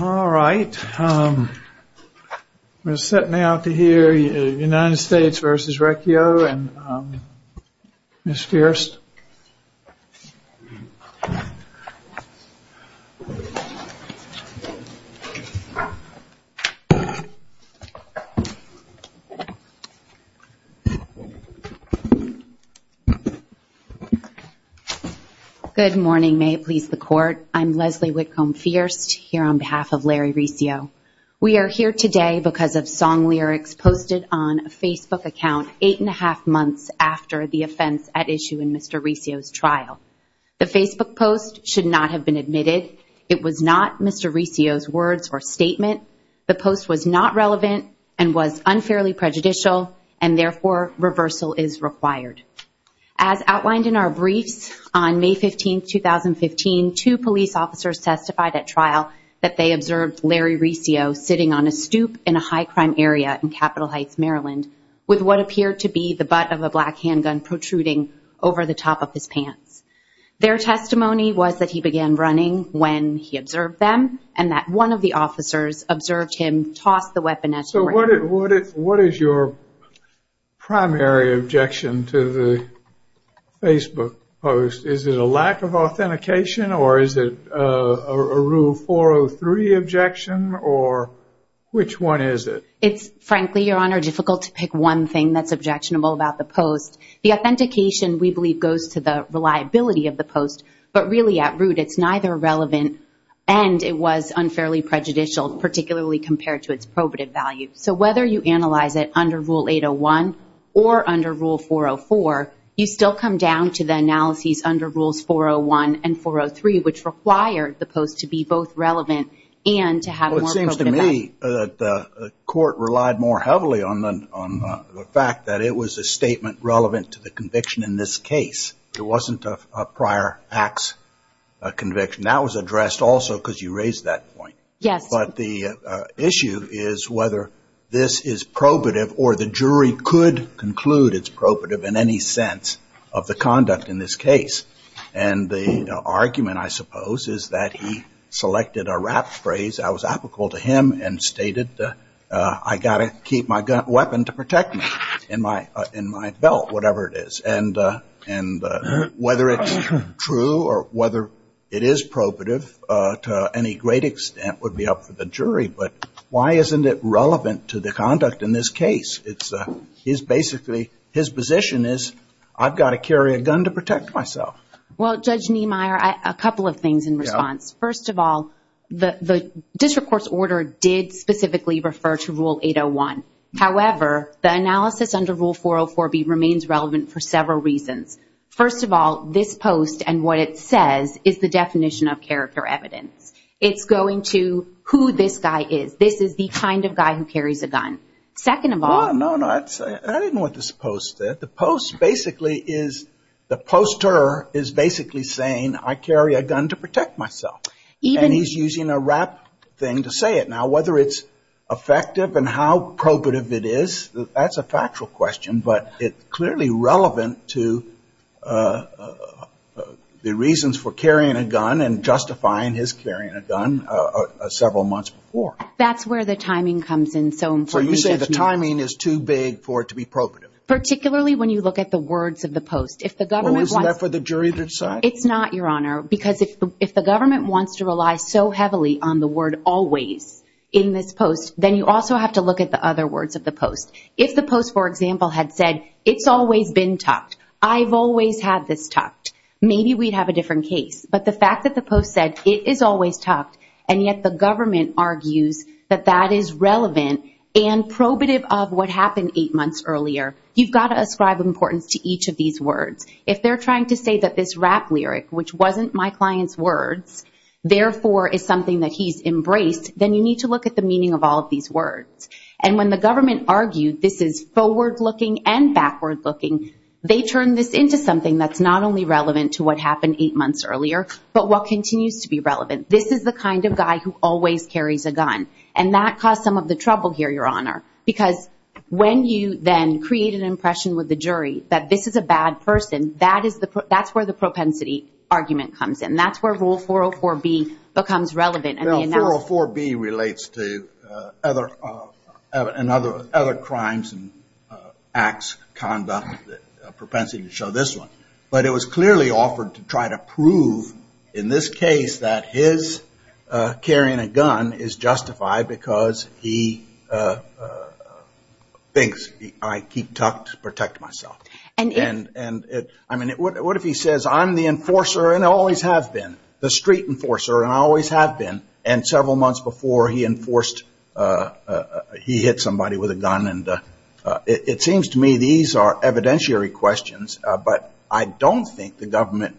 All right, we're sitting out to hear United States versus Recio and Ms. on behalf of Larry Recio. We are here today because of song lyrics posted on a Facebook account eight and a half months after the offense at issue in Mr. Recio's trial. The Facebook post should not have been admitted. It was not Mr. Recio's words or statement. The post was not relevant and was unfairly prejudicial and therefore reversal is required. As outlined in our briefs on May 15, 2015, two police officers testified at trial that they observed Larry Recio sitting on a stoop in a high-crime area in Capitol Heights, Maryland, with what appeared to be the butt of a black handgun protruding over the top of his pants. Their testimony was that he began running when he observed them and that one of the officers observed him toss the weapon at him. So what is your primary objection to the Facebook post? Is it a lack of authentication or is it a rule 403 objection or which one is it? It's frankly, Your Honor, difficult to pick one thing that's objectionable about the post. The authentication, we believe, goes to the reliability of the post, but really at root it's neither relevant and it was unfairly prejudicial, particularly compared to its probative value. So whether you analyze it under Rule 801 or under Rule 404, you still come down to the analyses under Rules 401 and 403, which require the post to be both relevant and to have a more probative value. Well, it seems to me that the court relied more heavily on the fact that it was a statement relevant to the conviction in this case. It wasn't a prior acts conviction. That was addressed also because you raised that point. Yes. But the issue is whether this is probative or the jury could conclude it's probative in any sense of the conduct in this case. And the argument, I suppose, is that he selected a rap phrase that was applicable to him and stated, I got to keep my weapon to protect me in my belt, whatever it is. And whether it's true or whether it is probative to any great extent would be up to the jury. But why isn't it relevant to the conduct in this case? It's basically his position is, I've got to carry a gun to protect myself. Well, Judge Niemeyer, a couple of things in response. First of all, the district court's order did specifically refer to Rule 801. However, the analysis under Rule 404 remains relevant for several reasons. First of all, this post and what it says is the definition of character evidence. It's going to who this guy is. This is the kind of guy who carries a gun. Second of all... No, no. I didn't want this post there. The post basically is, the poster is basically saying I carry a gun to protect myself. And he's using a rap thing to say it. Now, whether it's effective and how probative it is, that's a factual question. But it's clearly relevant to the reasons for carrying a gun and justifying his carrying a gun several months before. That's where the timing comes in. So you say the timing is too big for it to be probative? Particularly when you look at the words of the post. Well, isn't that for the jury to decide? It's not, Your Honor, because if the government wants to rely so heavily on the word always in this post, then you also have to look at the other words of the post. If the post, for example, had said it's always been tucked, I've always had this tucked, maybe we'd have a different case. But the fact that the post said it is always tucked, and yet the government argues that that is relevant and probative of what happened eight months earlier, you've got to ascribe importance to each of these words. If they're trying to say that this rap lyric, which wasn't my client's words, therefore is something that he's embraced, then you need to look at the meaning of all of these words. And when the government argued this is forward-looking and backward-looking, they turned this into something that's not only relevant to what happened eight months earlier, but what continues to be relevant. This is the kind of guy who always carries a gun. And that caused some of the trouble here, Your Honor, because when you then create an impression with the jury that this is a bad person, that's where the propensity argument comes in. That's where Rule 404B becomes relevant. No, 404B relates to other crimes and acts, conduct, propensity to show this one. But it was clearly offered to try to prove in this case that his carrying a gun is justified because he thinks, I keep tucked to protect myself. I mean, what if he says I'm the enforcer and I always have been, and several months before he enforced, he hit somebody with a gun and it seems to me these are evidentiary questions. But I don't think the government,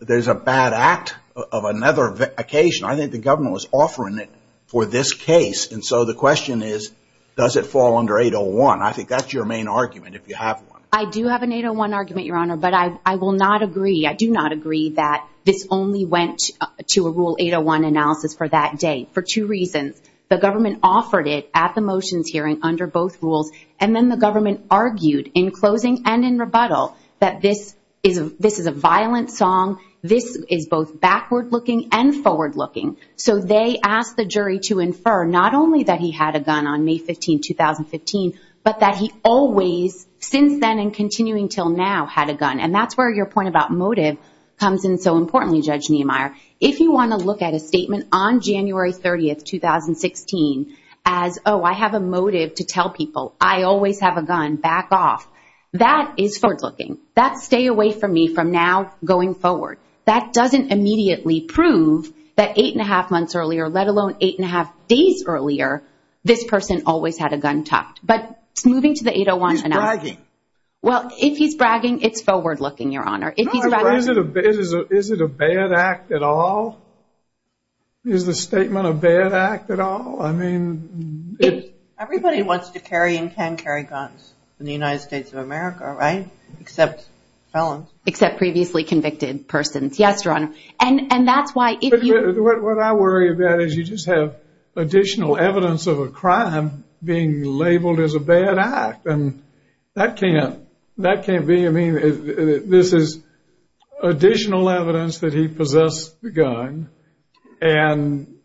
there's a bad act of another occasion. I think the government was offering it for this case. And so the question is, does it fall under 801? I think that's your main argument if you have one. I do have an 801 argument, Your Honor, but I will not agree. I do not agree that this only went to a Rule 801 analysis for that day for two reasons. The government offered it at the motions hearing under both rules, and then the government argued in closing and in rebuttal that this is a violent song, this is both backward-looking and forward-looking. So they asked the jury to infer not only that he had a gun on May 15, 2015, but that he always, since then and continuing until now, had a gun. And that's where your point about Attorney Judge Niemeyer, if you want to look at a statement on January 30, 2016, as, oh, I have a motive to tell people I always have a gun, back off. That is forward-looking. That's stay away from me from now going forward. That doesn't immediately prove that eight and a half months earlier, let alone eight and a half days earlier, this person always had a gun tucked. But moving to the 801 analysis. He's bragging. Well, if he's bragging, it's forward-looking, Your Honor. No, but is it a bad act at all? Is the statement a bad act at all? I mean... Everybody wants to carry and can carry guns in the United States of America, right? Except felons. Except previously convicted persons. Yes, Your Honor. And that's why if you... What I worry about is you just have additional evidence of a crime being labeled as a bad act. And that can't be. I mean, this is additional evidence that he possessed a gun. And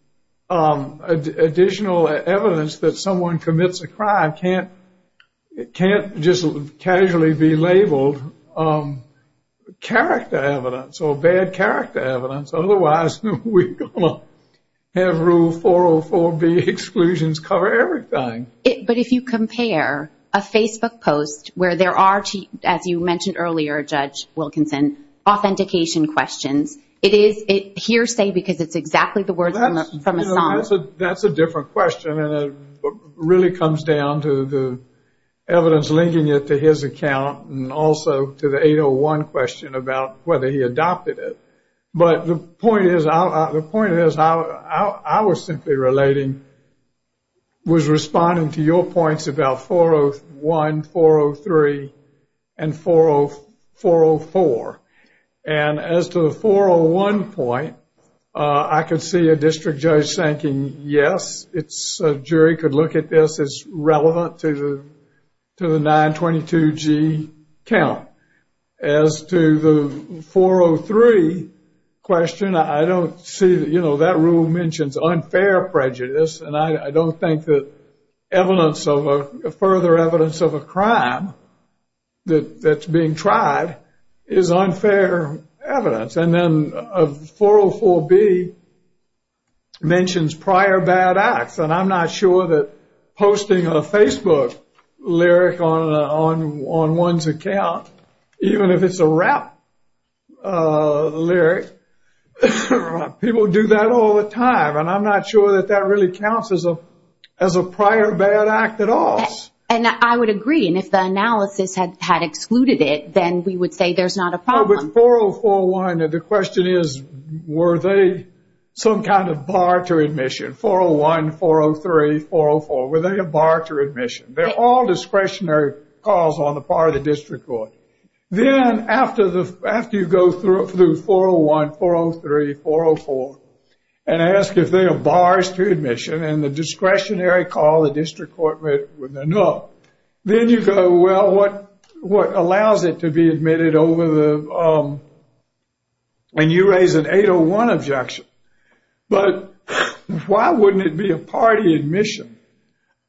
additional evidence that someone commits a crime can't just casually be labeled character evidence or bad character evidence. Otherwise, we're going to have Rule 404B exclusions cover everything. But if you compare a Facebook post where there are, as you mentioned earlier, Judge Wilkinson, authentication questions, it is hearsay because it's exactly the words from a song. That's a different question. And it really comes down to the evidence linking it to his account and also to the 801 question about whether he adopted it. But the point is, I was simply relating, was responding to your points about 401, 403, and 404. And as to the 401 point, I could see a district judge thinking, yes, a jury could look at this as relevant to the 922G count. As to the 403 question, I don't see... That rule mentions unfair prejudice. And I don't think that further evidence of a crime that's being tried is unfair evidence. And then 404B mentions prior bad acts. And I'm not sure that posting a Facebook lyric on one's account, even if it's a rap lyric, people do that all the time. And I'm not sure that that really counts as a prior bad act at all. And I would agree. And if the analysis had excluded it, then we would say there's not a problem. But 4041, the question is, were they some kind of bar to admission? 401, 403, 404, were they a bar to admission? They're all discretionary calls on the part of the district court. Then after you go through 401, 403, 404, and ask if they are bars to admission, and the discretionary call the district court with a no, then you go, well, what allows it to be admitted over the... And you raise an 801 objection. But why wouldn't it be a party admission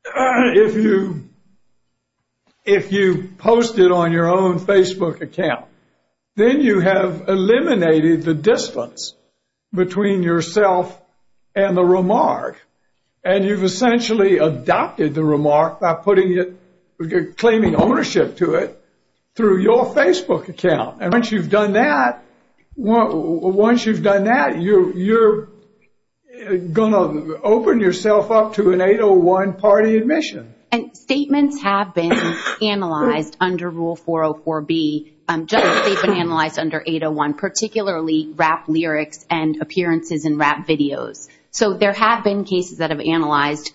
if you posted on your own Facebook account? Then you have eliminated the distance between yourself and the remark. And you've essentially adopted the remark by claiming ownership to it through your Facebook account. And once you've done that, you're going to open yourself up to an 801 party admission. And statements have been analyzed under Rule 404B. They've been analyzed under 801, particularly rap lyrics and appearances in rap videos. So there have been cases that have analyzed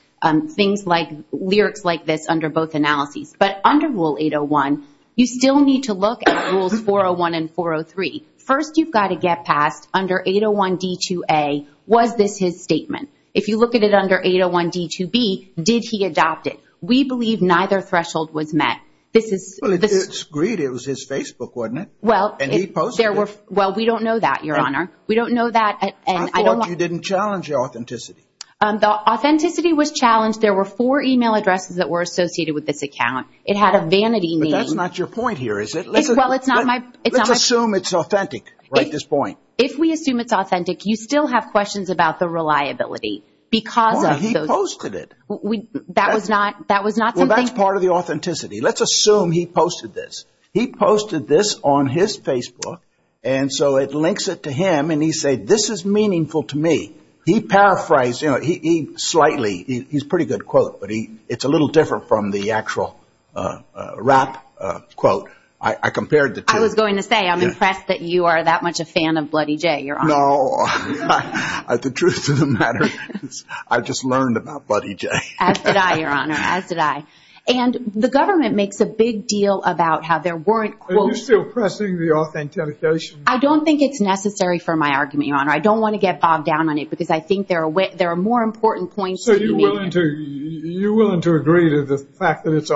things like lyrics like this under both analyses. But under Rule 801, you still need to look at Rules 401 and 403. First, you've got to get past under 801 D2A, was this his statement? If you look at it under 801 D2B, did he adopt it? We believe neither threshold was met. This is... Well, it's agreed it was his Facebook, wasn't it? Well, we don't know that, Your Honor. We don't know that, and I don't want... I thought you didn't challenge your authenticity. The authenticity was challenged. There were four email addresses that were associated with this account. It had a vanity name. But that's not your point here, is it? Well, it's not my... Let's assume it's authentic, right, this point. If we assume it's authentic, you still have questions about the reliability because of... Well, he posted it. That was not something... Well, that's part of the authenticity. Let's assume he posted this. He posted this on his Facebook, and so it links it to him, and he said, this is meaningful to me. He paraphrased... He's a pretty good quote, but it's a little different from the actual rap quote. I compared the two. I was going to say, I'm impressed that you are that much a fan of Bloody Jay, Your Honor. No. The truth of the matter is, I just learned about Bloody Jay. As did I, Your Honor. As did I. And the government makes a big deal about how there weren't quotes... Are you still pressing the authentication? I don't think it's necessary for my argument, Your Honor. I don't want to get bogged down on it because I think there are more important points to be made. So you're willing to agree to the fact that it's...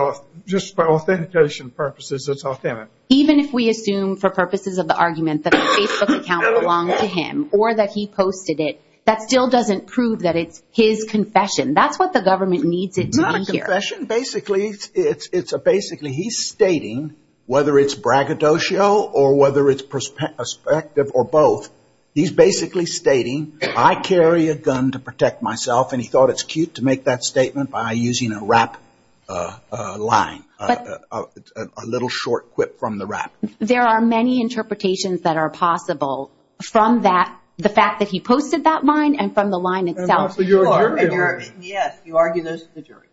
Just for authentication purposes, it's authentic? Even if we assume, for purposes of the argument, that the Facebook account belonged to him or that he posted it, that still doesn't prove that it's his confession. That's what the government needs it to be here. Not a confession. Basically, he's stating, whether it's braggadocio or whether it's perspective or both, he's basically stating, I carry a gun to protect myself, and he thought it's a short quip from the rap. There are many interpretations that are possible from that, the fact that he posted that line and from the line itself. And that's what you're arguing. Yes. You argue those to the jury.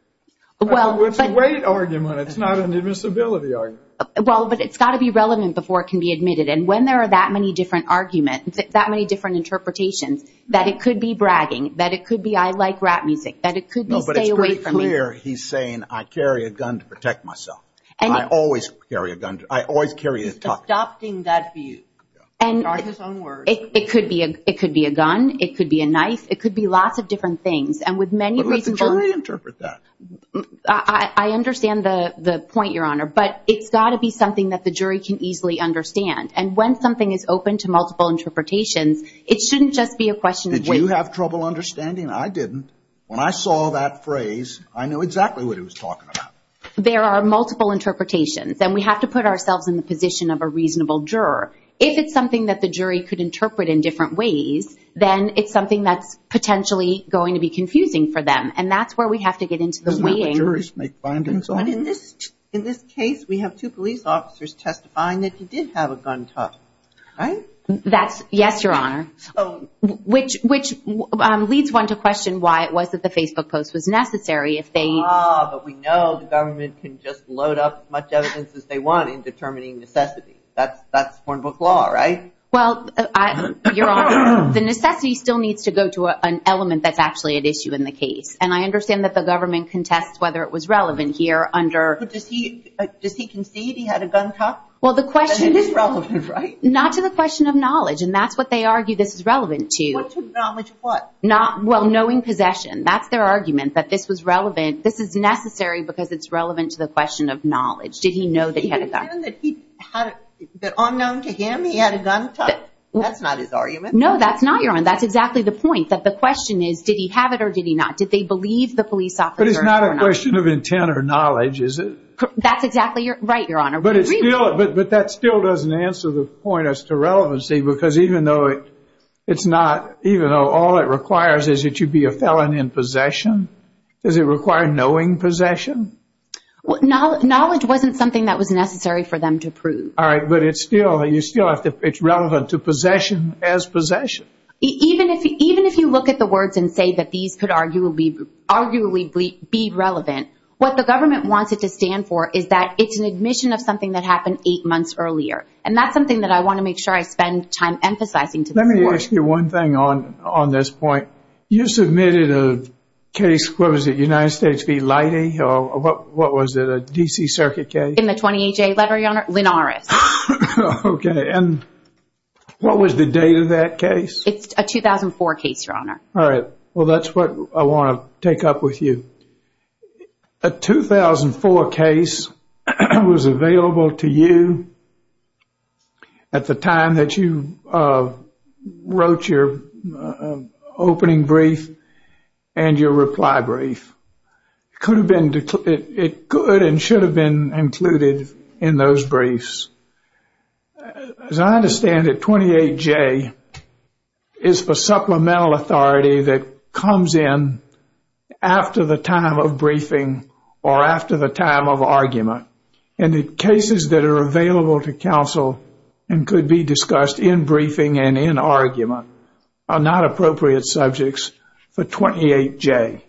Well, but... It's a weight argument. It's not an admissibility argument. Well, but it's got to be relevant before it can be admitted. And when there are that many different arguments, that many different interpretations, that it could be bragging, that it could be, I like rap music, that it could be, stay away from me. Here, he's saying, I carry a gun to protect myself. And I always carry a gun. I always carry a tuck. He's adopting that view. Yeah. And... He's arguing his own words. It could be a gun. It could be a knife. It could be lots of different things. And with many reasonable... But let the jury interpret that. I understand the point, Your Honor. But it's got to be something that the jury can easily understand. And when something is open to multiple interpretations, it shouldn't just be a question of weight. You have trouble understanding? I didn't. When I saw that phrase, I knew exactly what he was talking about. There are multiple interpretations. And we have to put ourselves in the position of a reasonable juror. If it's something that the jury could interpret in different ways, then it's something that's potentially going to be confusing for them. And that's where we have to get into the weighing. The way the jurors make findings on it. In this case, we have two police officers testifying that he did have a gun tucked. Right? That's... Yes, Your Honor. Which leads one to question why it was that the Facebook post was necessary. Ah, but we know the government can just load up as much evidence as they want in determining necessity. That's Hornbook law, right? Well, Your Honor, the necessity still needs to go to an element that's actually at issue in the case. And I understand that the government contests whether it was relevant here under... But does he concede he had a gun tucked? Well, the question... It is relevant, right? Not to the question of knowledge. And that's what they argue this is relevant to. What's relevant to knowledge of what? Well, knowing possession. That's their argument, that this was relevant. This is necessary because it's relevant to the question of knowledge. Did he know that he had a gun? Did he pretend that he had... That unknown to him, he had a gun tucked? That's not his argument. No, that's not, Your Honor. That's exactly the point. That the question is, did he have it or did he not? Did they believe the police officer or not? But it's not a question of intent or knowledge, is it? That's exactly right, Your Honor. But it's still... But that still doesn't answer the point as to relevancy because even though it's not... Even though all it requires is that you be a felon in possession, does it require knowing possession? Knowledge wasn't something that was necessary for them to prove. All right. But it's still... You still have to... It's relevant to possession as possession. Even if you look at the words and say that these could arguably be relevant, what the that's what I want to make sure I spend time emphasizing. Let me ask you one thing on this point. You submitted a case, what was it, United States v. Leidy or what was it, a D.C. Circuit case? In the 28-J letter, Your Honor, Linn-Aris. Okay. And what was the date of that case? It's a 2004 case, Your Honor. All right. Well, that's what I want to take up with you. A 2004 case was available for you at the time that you wrote your opening brief and your reply brief. It could and should have been included in those briefs. As I understand it, 28-J is for supplemental authority that comes in after the time of the case. Cases that are available to counsel and could be discussed in briefing and in argument are not appropriate subjects for 28-J.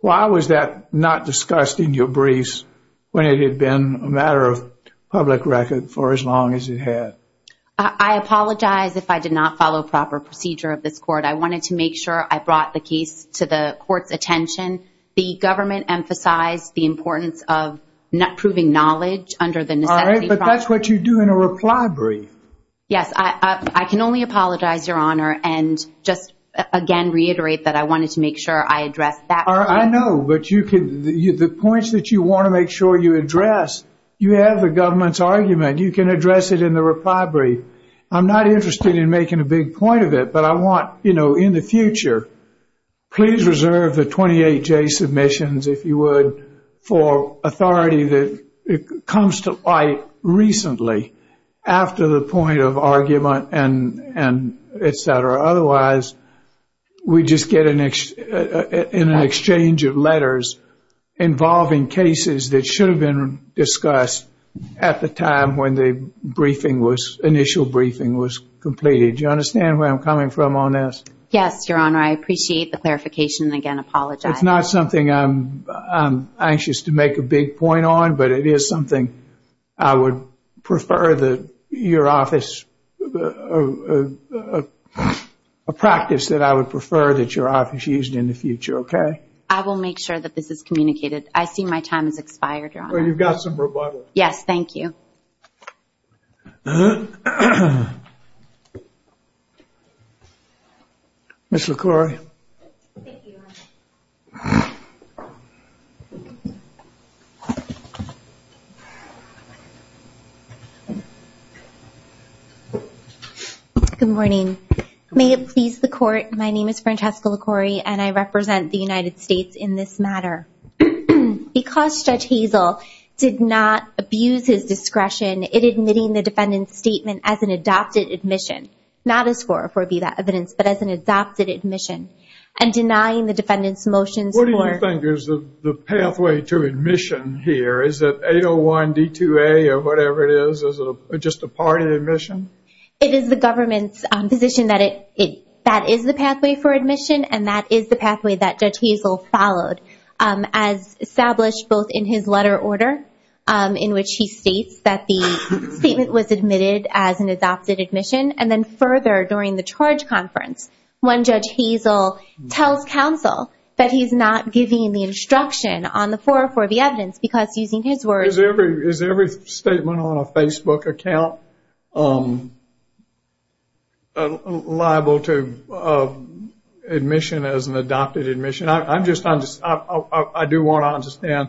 Why was that not discussed in your briefs when it had been a matter of public record for as long as it had? I apologize if I did not follow proper procedure of this Court. I wanted to make sure I brought the case to the Court's attention. The government emphasized the importance of proving knowledge under the necessity process. All right. But that's what you do in a reply brief. Yes. I can only apologize, Your Honor, and just again reiterate that I wanted to make sure I addressed that point. I know. But the points that you want to make sure you address, you have the government's argument. You can address it in the reply brief. I'm not interested in making a big point of it, but I want, in the future, please reserve the 28-J submissions, if you would, for authority that comes to light recently after the point of argument and etc. Otherwise, we just get an exchange of letters involving cases that should have been discussed at the time when the initial briefing was completed. Do you understand where I'm coming from on this? Yes, Your Honor. I appreciate the clarification and again apologize. It's not something I'm anxious to make a big point on, but it is something I would prefer your office, a practice that I would prefer that your office used in the future, okay? I will make sure that this is communicated. I see my time has expired, Your Honor. Well, you've got some rebuttal. Yes. Thank you. Ms. LaCourie. Thank you, Your Honor. Good morning. May it please the Court, my name is Francesca LaCourie and I represent the United States in this matter. Because Judge Hazel did not abuse his discretion in admitting the defendant's statement as an adopted admission, not as for evidence, but as an adopted admission, and denying the defendant's motions for... What do you think is the pathway to admission here? Is it 801 D2A or whatever it is, just a part of the admission? It is the government's position that that is the pathway for admission and that is the the statement was admitted as an adopted admission, and then further during the charge conference, when Judge Hazel tells counsel that he's not giving the instruction on the 404B evidence because using his words... Is every statement on a Facebook account liable to admission as an adopted admission? I do want to understand,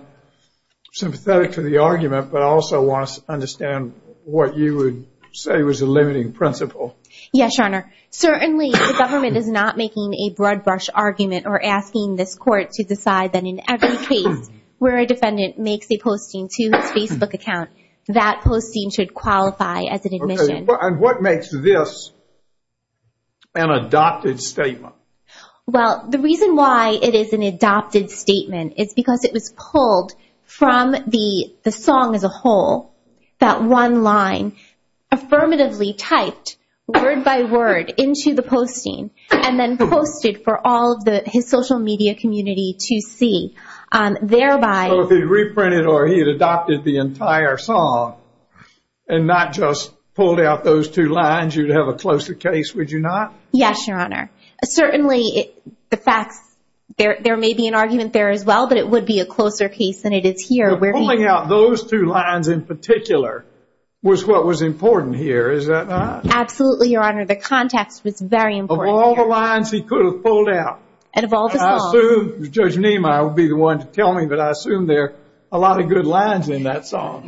sympathetic to the argument, but I also want to understand what you would say was the limiting principle. Yes, Your Honor. Certainly the government is not making a blood brush argument or asking this Court to decide that in every case where a defendant makes a posting to his Facebook account, that posting should qualify as an admission. What makes this an adopted statement? Well, the reason why it is an adopted statement is because it was pulled from the song as a whole, that one line, affirmatively typed word by word into the posting, and then posted for all of his social media community to see, thereby... So if he had reprinted or he had adopted the entire song, and not just pulled out those two lines, you'd have a closer case, would you not? Yes, Your Honor. Certainly, the facts, there may be an argument there as well, but it would be a closer case than it is here where he... Pulling out those two lines in particular was what was important here, is that not? Absolutely, Your Honor. The context was very important here. Of all the lines he could have pulled out... And of all the songs... I assume Judge Nima would be the one to tell me, but I assume there are a lot of good lines in that song.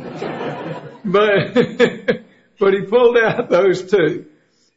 But he pulled out those two,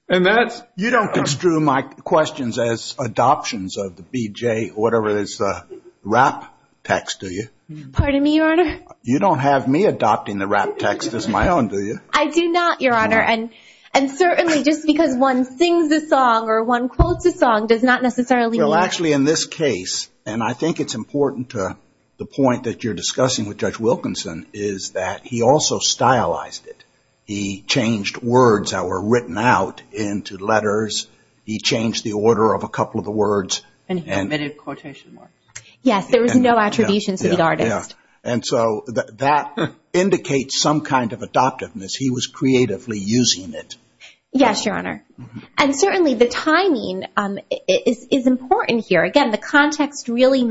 and that's... You don't construe my questions as adoptions of the BJ or whatever is the rap text, do you? Pardon me, Your Honor? You don't have me adopting the rap text as my own, do you? I do not, Your Honor. And certainly, just because one sings a song or one quotes a song does not necessarily mean... Well, actually, in this case, and I think it's important to the point that you're discussing with Judge Wilkinson, is that he also stylized it. He changed words that were written out into letters. He changed the order of a couple of the words. And he omitted quotation marks. Yes, there was no attribution to the artist. And so that indicates some kind of adoptiveness. He was creatively using it. Yes, Your Honor. And certainly, the timing is important here. Again, the context really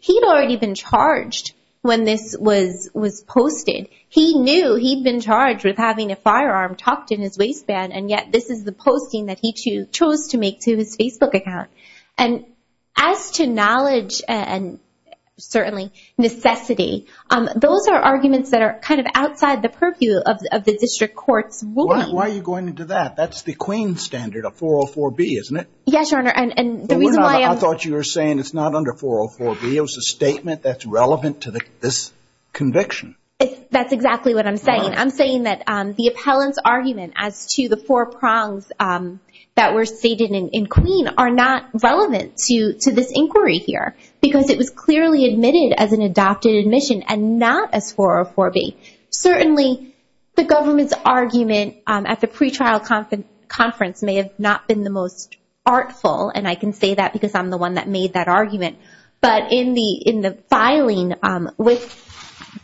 He'd already been charged when this was posted. He knew he'd been charged with having a firearm tucked in his waistband, and yet this is the posting that he chose to make to his Facebook account. And as to knowledge and certainly necessity, those are arguments that are kind of outside the purview of the district court's ruling. Why are you going into that? That's the Queen's standard, a 404B, isn't it? Yes, Your Honor. And the reason why I'm... It's not under 404B. It was a statement that's relevant to this conviction. That's exactly what I'm saying. I'm saying that the appellant's argument as to the four prongs that were stated in Queen are not relevant to this inquiry here, because it was clearly admitted as an adopted admission and not as 404B. Certainly, the government's argument at the pretrial conference may have not been the most artful, and I can say that because I'm the one that made that argument. But in the filing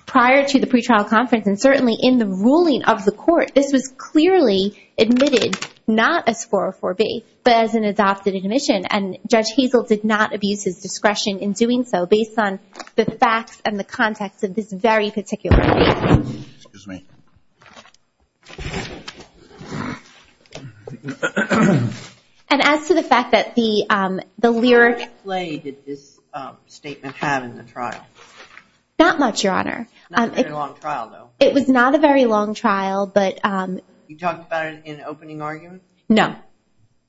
prior to the pretrial conference, and certainly in the ruling of the court, this was clearly admitted not as 404B, but as an adopted admission. And Judge Hazel did not abuse his discretion in doing so based on the facts and the context of this very particular case. Excuse me. And as to the fact that the lyric... How much play did this statement have in the trial? Not much, Your Honor. Not a very long trial, though. It was not a very long trial, but... You talked about it in opening argument? No.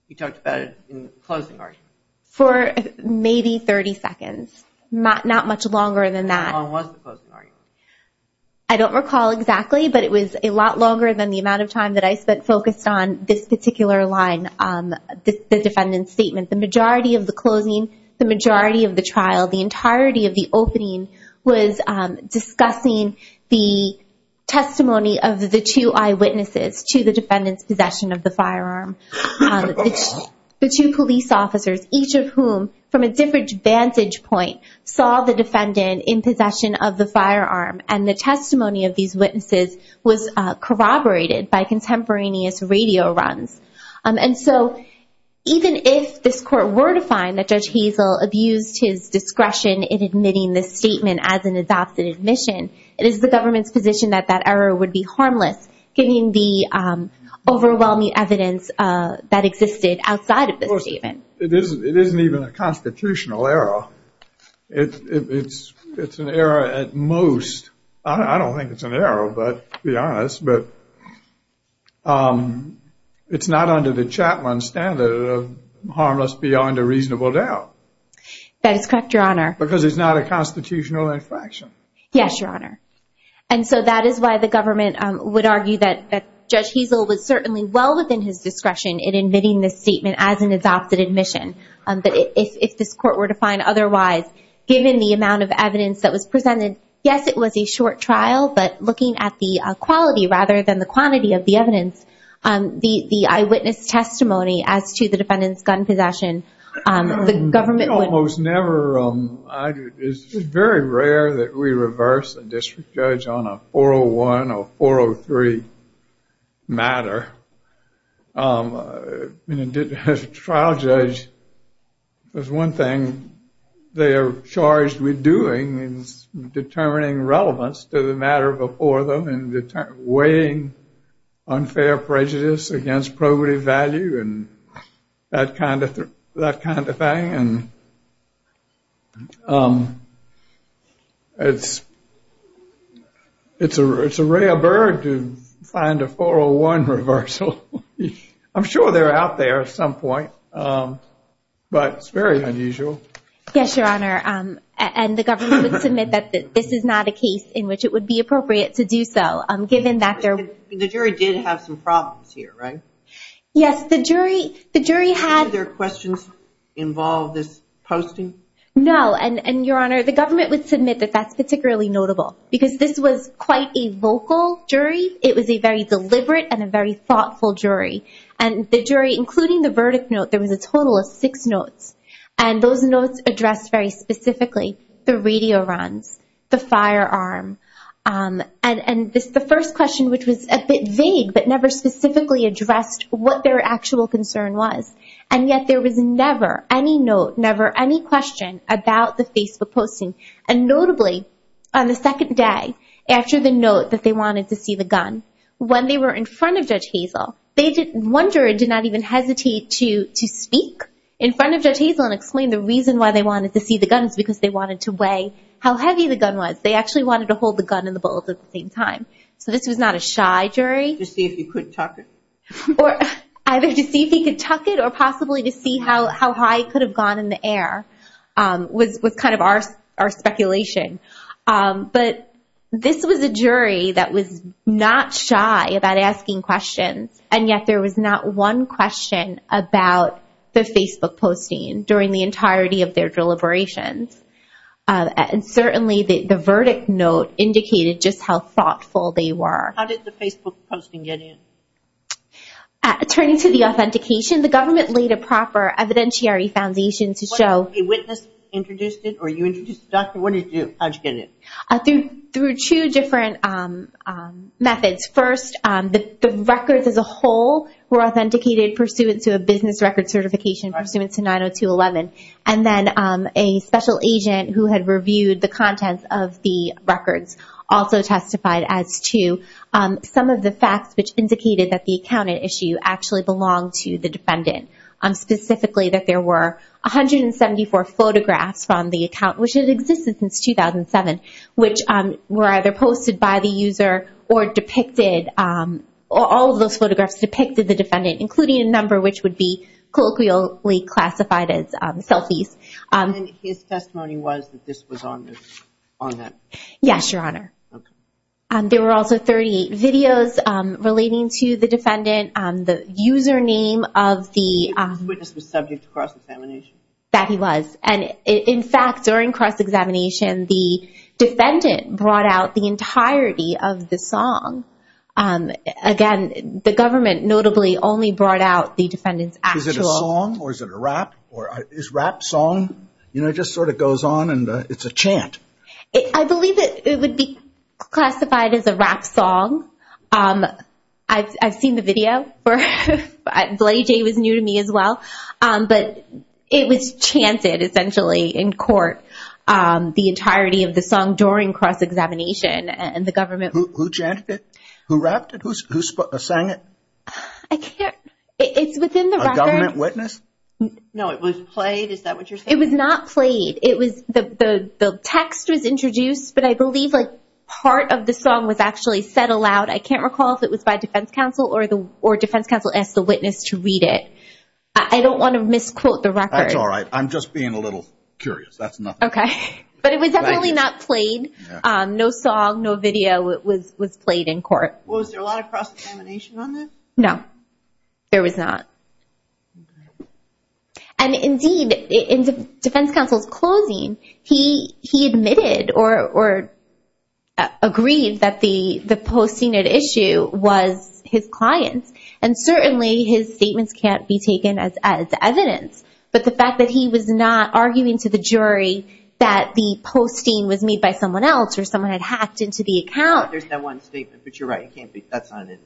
You talked about it in closing argument? For maybe 30 seconds. Not much longer than that. How long was the closing argument? I don't recall exactly, but it was a lot longer than the amount of time that I spent focused on this particular line, the defendant's statement. The majority of the closing, the majority of the trial, the entirety of the opening was discussing the testimony of the two eyewitnesses to the defendant's possession of the firearm. The two police officers, each of whom, from a different vantage point, saw the defendant in possession of the firearm. And the testimony of these witnesses was corroborated by contemporaneous radio runs. And so even if this court were to find that Judge Hazel abused his discretion in admitting this statement as an adopted admission, it is the government's position that that error would be harmless, given the overwhelming evidence that existed outside of this statement. It isn't even a constitutional error. It's an error at most. I don't think it's an error, but to be honest, it's not under the Chapman standard of harmless beyond a reasonable doubt. That is correct, Your Honor. Because it's not a constitutional infraction. Yes, Your Honor. And so that is why the government would argue that Judge Hazel was certainly well in his discretion in admitting this statement as an adopted admission. But if this court were to find otherwise, given the amount of evidence that was presented, yes, it was a short trial. But looking at the quality rather than the quantity of the evidence, the eyewitness testimony as to the defendant's gun possession, the government would- It's very rare that we reverse a district judge on a 401 or 403 matter. Trial judge, there's one thing they are charged with doing is determining relevance to the matter before them and weighing unfair prejudice against probative value and that kind of thing. It's a rare bird to find a 401 reversal. I'm sure they're out there at some point, but it's very unusual. Yes, Your Honor. And the government would submit that this is not a case in which it would be appropriate to do so, given that there- The jury did have some problems here, right? Yes, the jury had- No, and Your Honor, the government would submit that that's particularly notable, because this was quite a vocal jury. It was a very deliberate and a very thoughtful jury. And the jury, including the verdict note, there was a total of six notes. And those notes addressed very specifically the radio runs, the firearm, and the first question, which was a bit vague, but never specifically addressed what their actual concern was. And yet, there was never any note, never any question about the Facebook posting. And notably, on the second day, after the note that they wanted to see the gun, when they were in front of Judge Hazel, one jury did not even hesitate to speak in front of Judge Hazel and explain the reason why they wanted to see the gun is because they wanted to weigh how heavy the gun was. They actually wanted to hold the gun and the bullet at the same time. So this was not a shy jury. To see if he could tuck it. Or either to see if he could tuck it or possibly to see how high it could have gone in the air was kind of our speculation. But this was a jury that was not shy about asking questions. And yet, there was not one question about the Facebook posting during the entirety of their deliberations. And certainly, the verdict note indicated just how thoughtful they were. How did the Facebook posting get in? Turning to the authentication, the government laid a proper evidentiary foundation to show When a witness introduced it or you introduced the doctor, how did you get it? Through two different methods. First, the records as a whole were authenticated pursuant to a business record certification pursuant to 90211. And then a special agent who had reviewed the contents of the records also testified as to some of the facts which indicated that the account at issue actually belonged to the defendant. Specifically, that there were 174 photographs from the account which had existed since 2007 which were either posted by the user or depicted. All of those photographs depicted the defendant including a number which would be colloquially classified as selfies. And his testimony was that this was on that? Yes, Your Honor. There were also 38 videos relating to the defendant, the username of the The witness was subject to cross-examination? That he was. And in fact, during cross-examination, the defendant brought out the entirety of the song. Again, the government notably only brought out the defendant's actual Is it a song or is it a rap? Is rap song? It just sort of goes on and it's a chant. I believe that it would be classified as a rap song. I've seen the video. Bloody Jay was new to me as well. But it was chanted essentially in court. The entirety of the song during cross-examination and the government Who chanted it? Who rapped it? Who sang it? I can't. It's within the record. A government witness? No, it was played. Is that what you're saying? It was not played. The text was introduced, but I believe part of the song was actually said aloud. I can't recall if it was by defense counsel or defense counsel asked the witness to read it. I don't want to misquote the record. That's all right. I'm just being a little curious. That's nothing. Okay. But it was definitely not played. No song, no video was played in court. Was there a lot of cross-examination on this? No, there was not. Okay. And indeed, in defense counsel's closing, he admitted or agreed that the posting at issue was his client's. And certainly his statements can't be taken as evidence. But the fact that he was not arguing to the jury that the posting was made by someone else or someone had hacked into the account. There's that one statement, but you're right. It can't be. That's not it.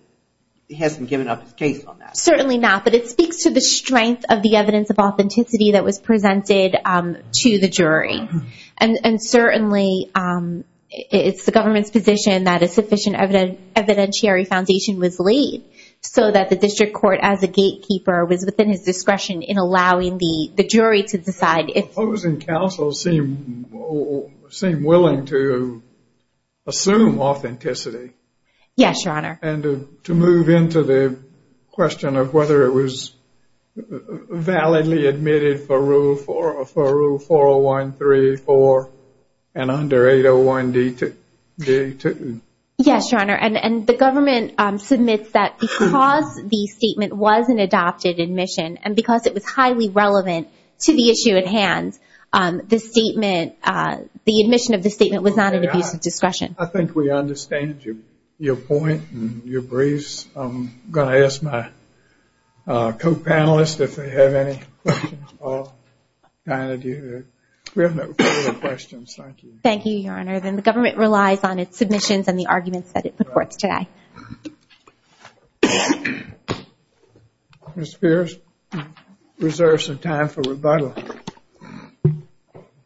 He hasn't given up his case on that. Certainly not. But it speaks to the strength of the evidence of authenticity that was presented to the jury. And certainly, it's the government's position that a sufficient evidentiary foundation was laid so that the district court, as a gatekeeper, was within his discretion in allowing the jury to decide if- Opposing counsel seem willing to assume authenticity. Yes, Your Honor. And to move into the question of whether it was validly admitted for Rule 401, 3, 4, and under 801 D2. Yes, Your Honor. And the government submits that because the statement was an adopted admission and because it was highly relevant to the issue at hand, the admission of the statement was not an abuse of discretion. I think we understand your point and your briefs. I'm going to ask my co-panelists if they have any questions. We have no further questions. Thank you. Thank you, Your Honor. And the government relies on its submissions and the arguments that it reports today.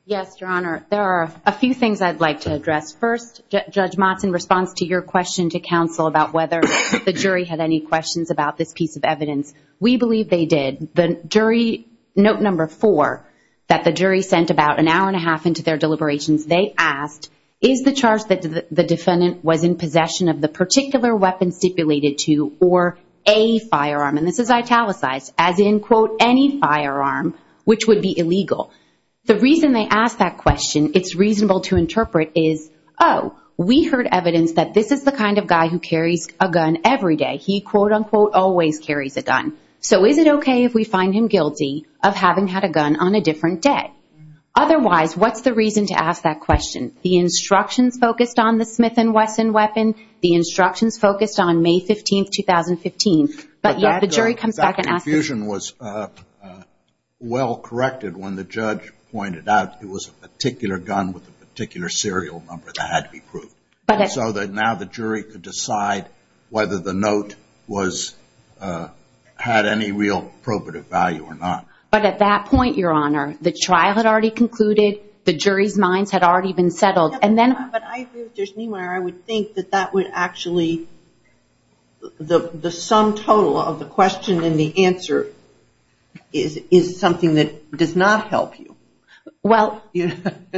Yes, Your Honor. There are a few things I'd like to address. First, Judge Motzen, in response to your question to counsel about whether the jury had any questions about this piece of evidence, we believe they did. The jury, note number four, that the jury sent about an hour and a half into their deliberations, they asked, is the charge that the defendant was in possession of the particular weapon stipulated to or a firearm, and this is italicized, as in, quote, any firearm, which would be illegal. The reason they asked that question, it's reasonable to interpret, is, oh, we heard evidence that this is the kind of guy who carries a gun every day. He, quote, unquote, always carries a gun. So is it okay if we find him guilty of having had a gun on a different day? Otherwise, what's the reason to ask that question? The instructions focused on the Smith & Wesson weapon. The instructions focused on May 15, 2015, but yet the jury comes back and asks the question. But that confusion was well-corrected when the judge pointed out it was a particular gun with a particular serial number that had to be proved. So that now the jury could decide whether the note had any real probative value or not. But at that point, Your Honor, the trial had already concluded, the jury's minds had already been settled, and then... But I agree with Judge Niemeyer. I would think that that would actually... The sum total of the question and the answer is something that does not help you. Well,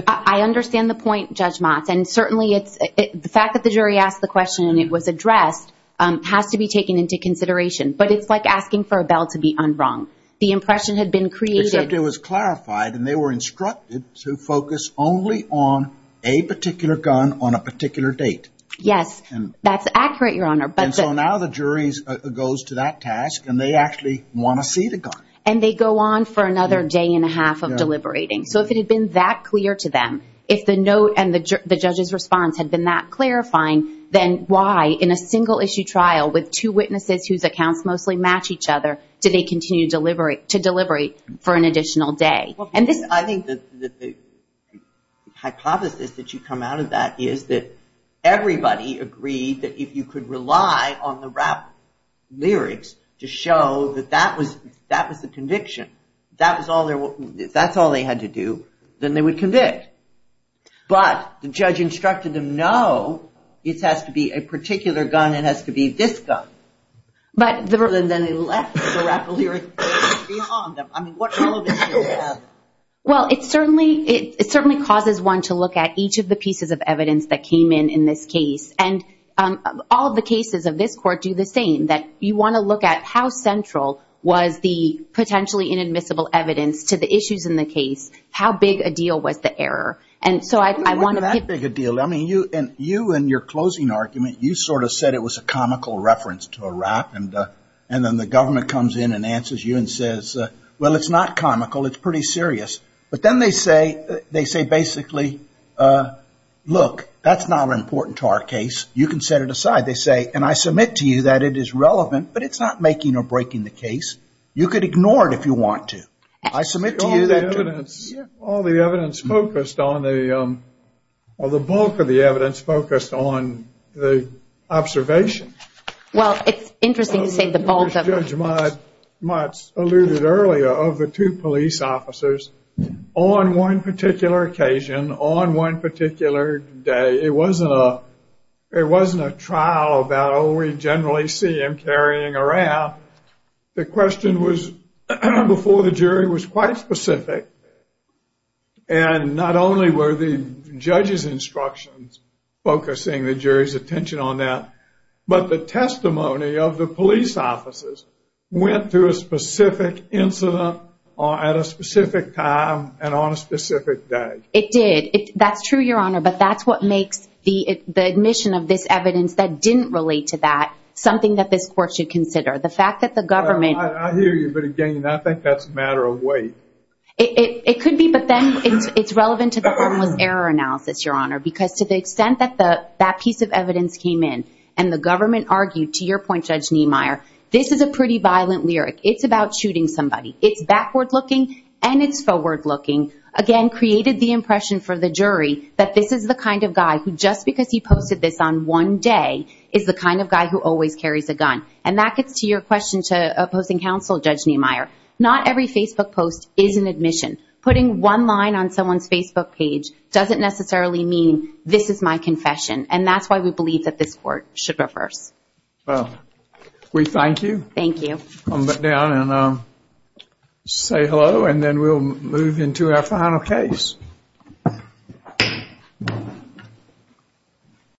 I understand the point, Judge Motz, and certainly it's... The fact that the jury asked the question and it was addressed has to be taken into consideration. But it's like asking for a bell to be unrung. The impression had been created... Except it was clarified and they were instructed to focus only on a particular gun on a particular date. Yes, that's accurate, Your Honor. And so now the jury goes to that task and they actually want to see the gun. And they go on for another day and a half of deliberating. So if it had been that clear to them, if the note and the judge's response had been that clarifying, then why, in a single-issue trial with two witnesses whose accounts mostly match each other, do they continue to deliberate for an additional day? I think that the hypothesis that you come out of that is that everybody agreed that if you could rely on the rap lyrics to show that that was the conviction, that's all they had to do, then they would convict. But the judge instructed them, no, it has to be a particular gun, it has to be this gun. But then they left the rap lyrics behind them. I mean, what relevance do you have? Well, it certainly causes one to look at each of the pieces of evidence that came in in this case. And all of the cases of this court do the same, that you want to look at how central was the potentially inadmissible evidence to the issues in the case, how big a deal was the error. And so I want to pick... It wasn't that big a deal. I mean, you and your closing argument, you sort of said it was a comical reference to a rap. And then the government comes in and answers you and says, well, it's not comical, it's pretty serious. But then they say, they say, basically, look, that's not important to our case. You can set it aside. They say, and I submit to you that it is relevant, but it's not making or breaking the case. You could ignore it if you want to. I submit to you that... All the evidence focused on the, or the bulk of the evidence focused on the observation. Well, it's interesting to say that Judge Mutz alluded earlier of the two police officers on one particular occasion, on one particular day. It wasn't a trial about, oh, we generally see him carrying a rap. The question was, before the jury, was quite specific. And not only were the judge's went through a specific incident at a specific time and on a specific day. It did. That's true, Your Honor, but that's what makes the admission of this evidence that didn't relate to that something that this court should consider. The fact that the government... I hear you, but again, I think that's a matter of weight. It could be, but then it's relevant to the harmless error analysis, Your Honor, because to the extent that that piece of evidence came in and the government argued, to your point, this is a pretty violent lyric. It's about shooting somebody. It's backward looking and it's forward looking. Again, created the impression for the jury that this is the kind of guy who just because he posted this on one day is the kind of guy who always carries a gun. And that gets to your question to opposing counsel, Judge Niemeyer. Not every Facebook post is an admission. Putting one line on someone's Facebook page doesn't necessarily mean this is my confession. And that's why we believe that this court should reverse. Well, we thank you. Thank you. Come back down and say hello and then we'll move into our final case.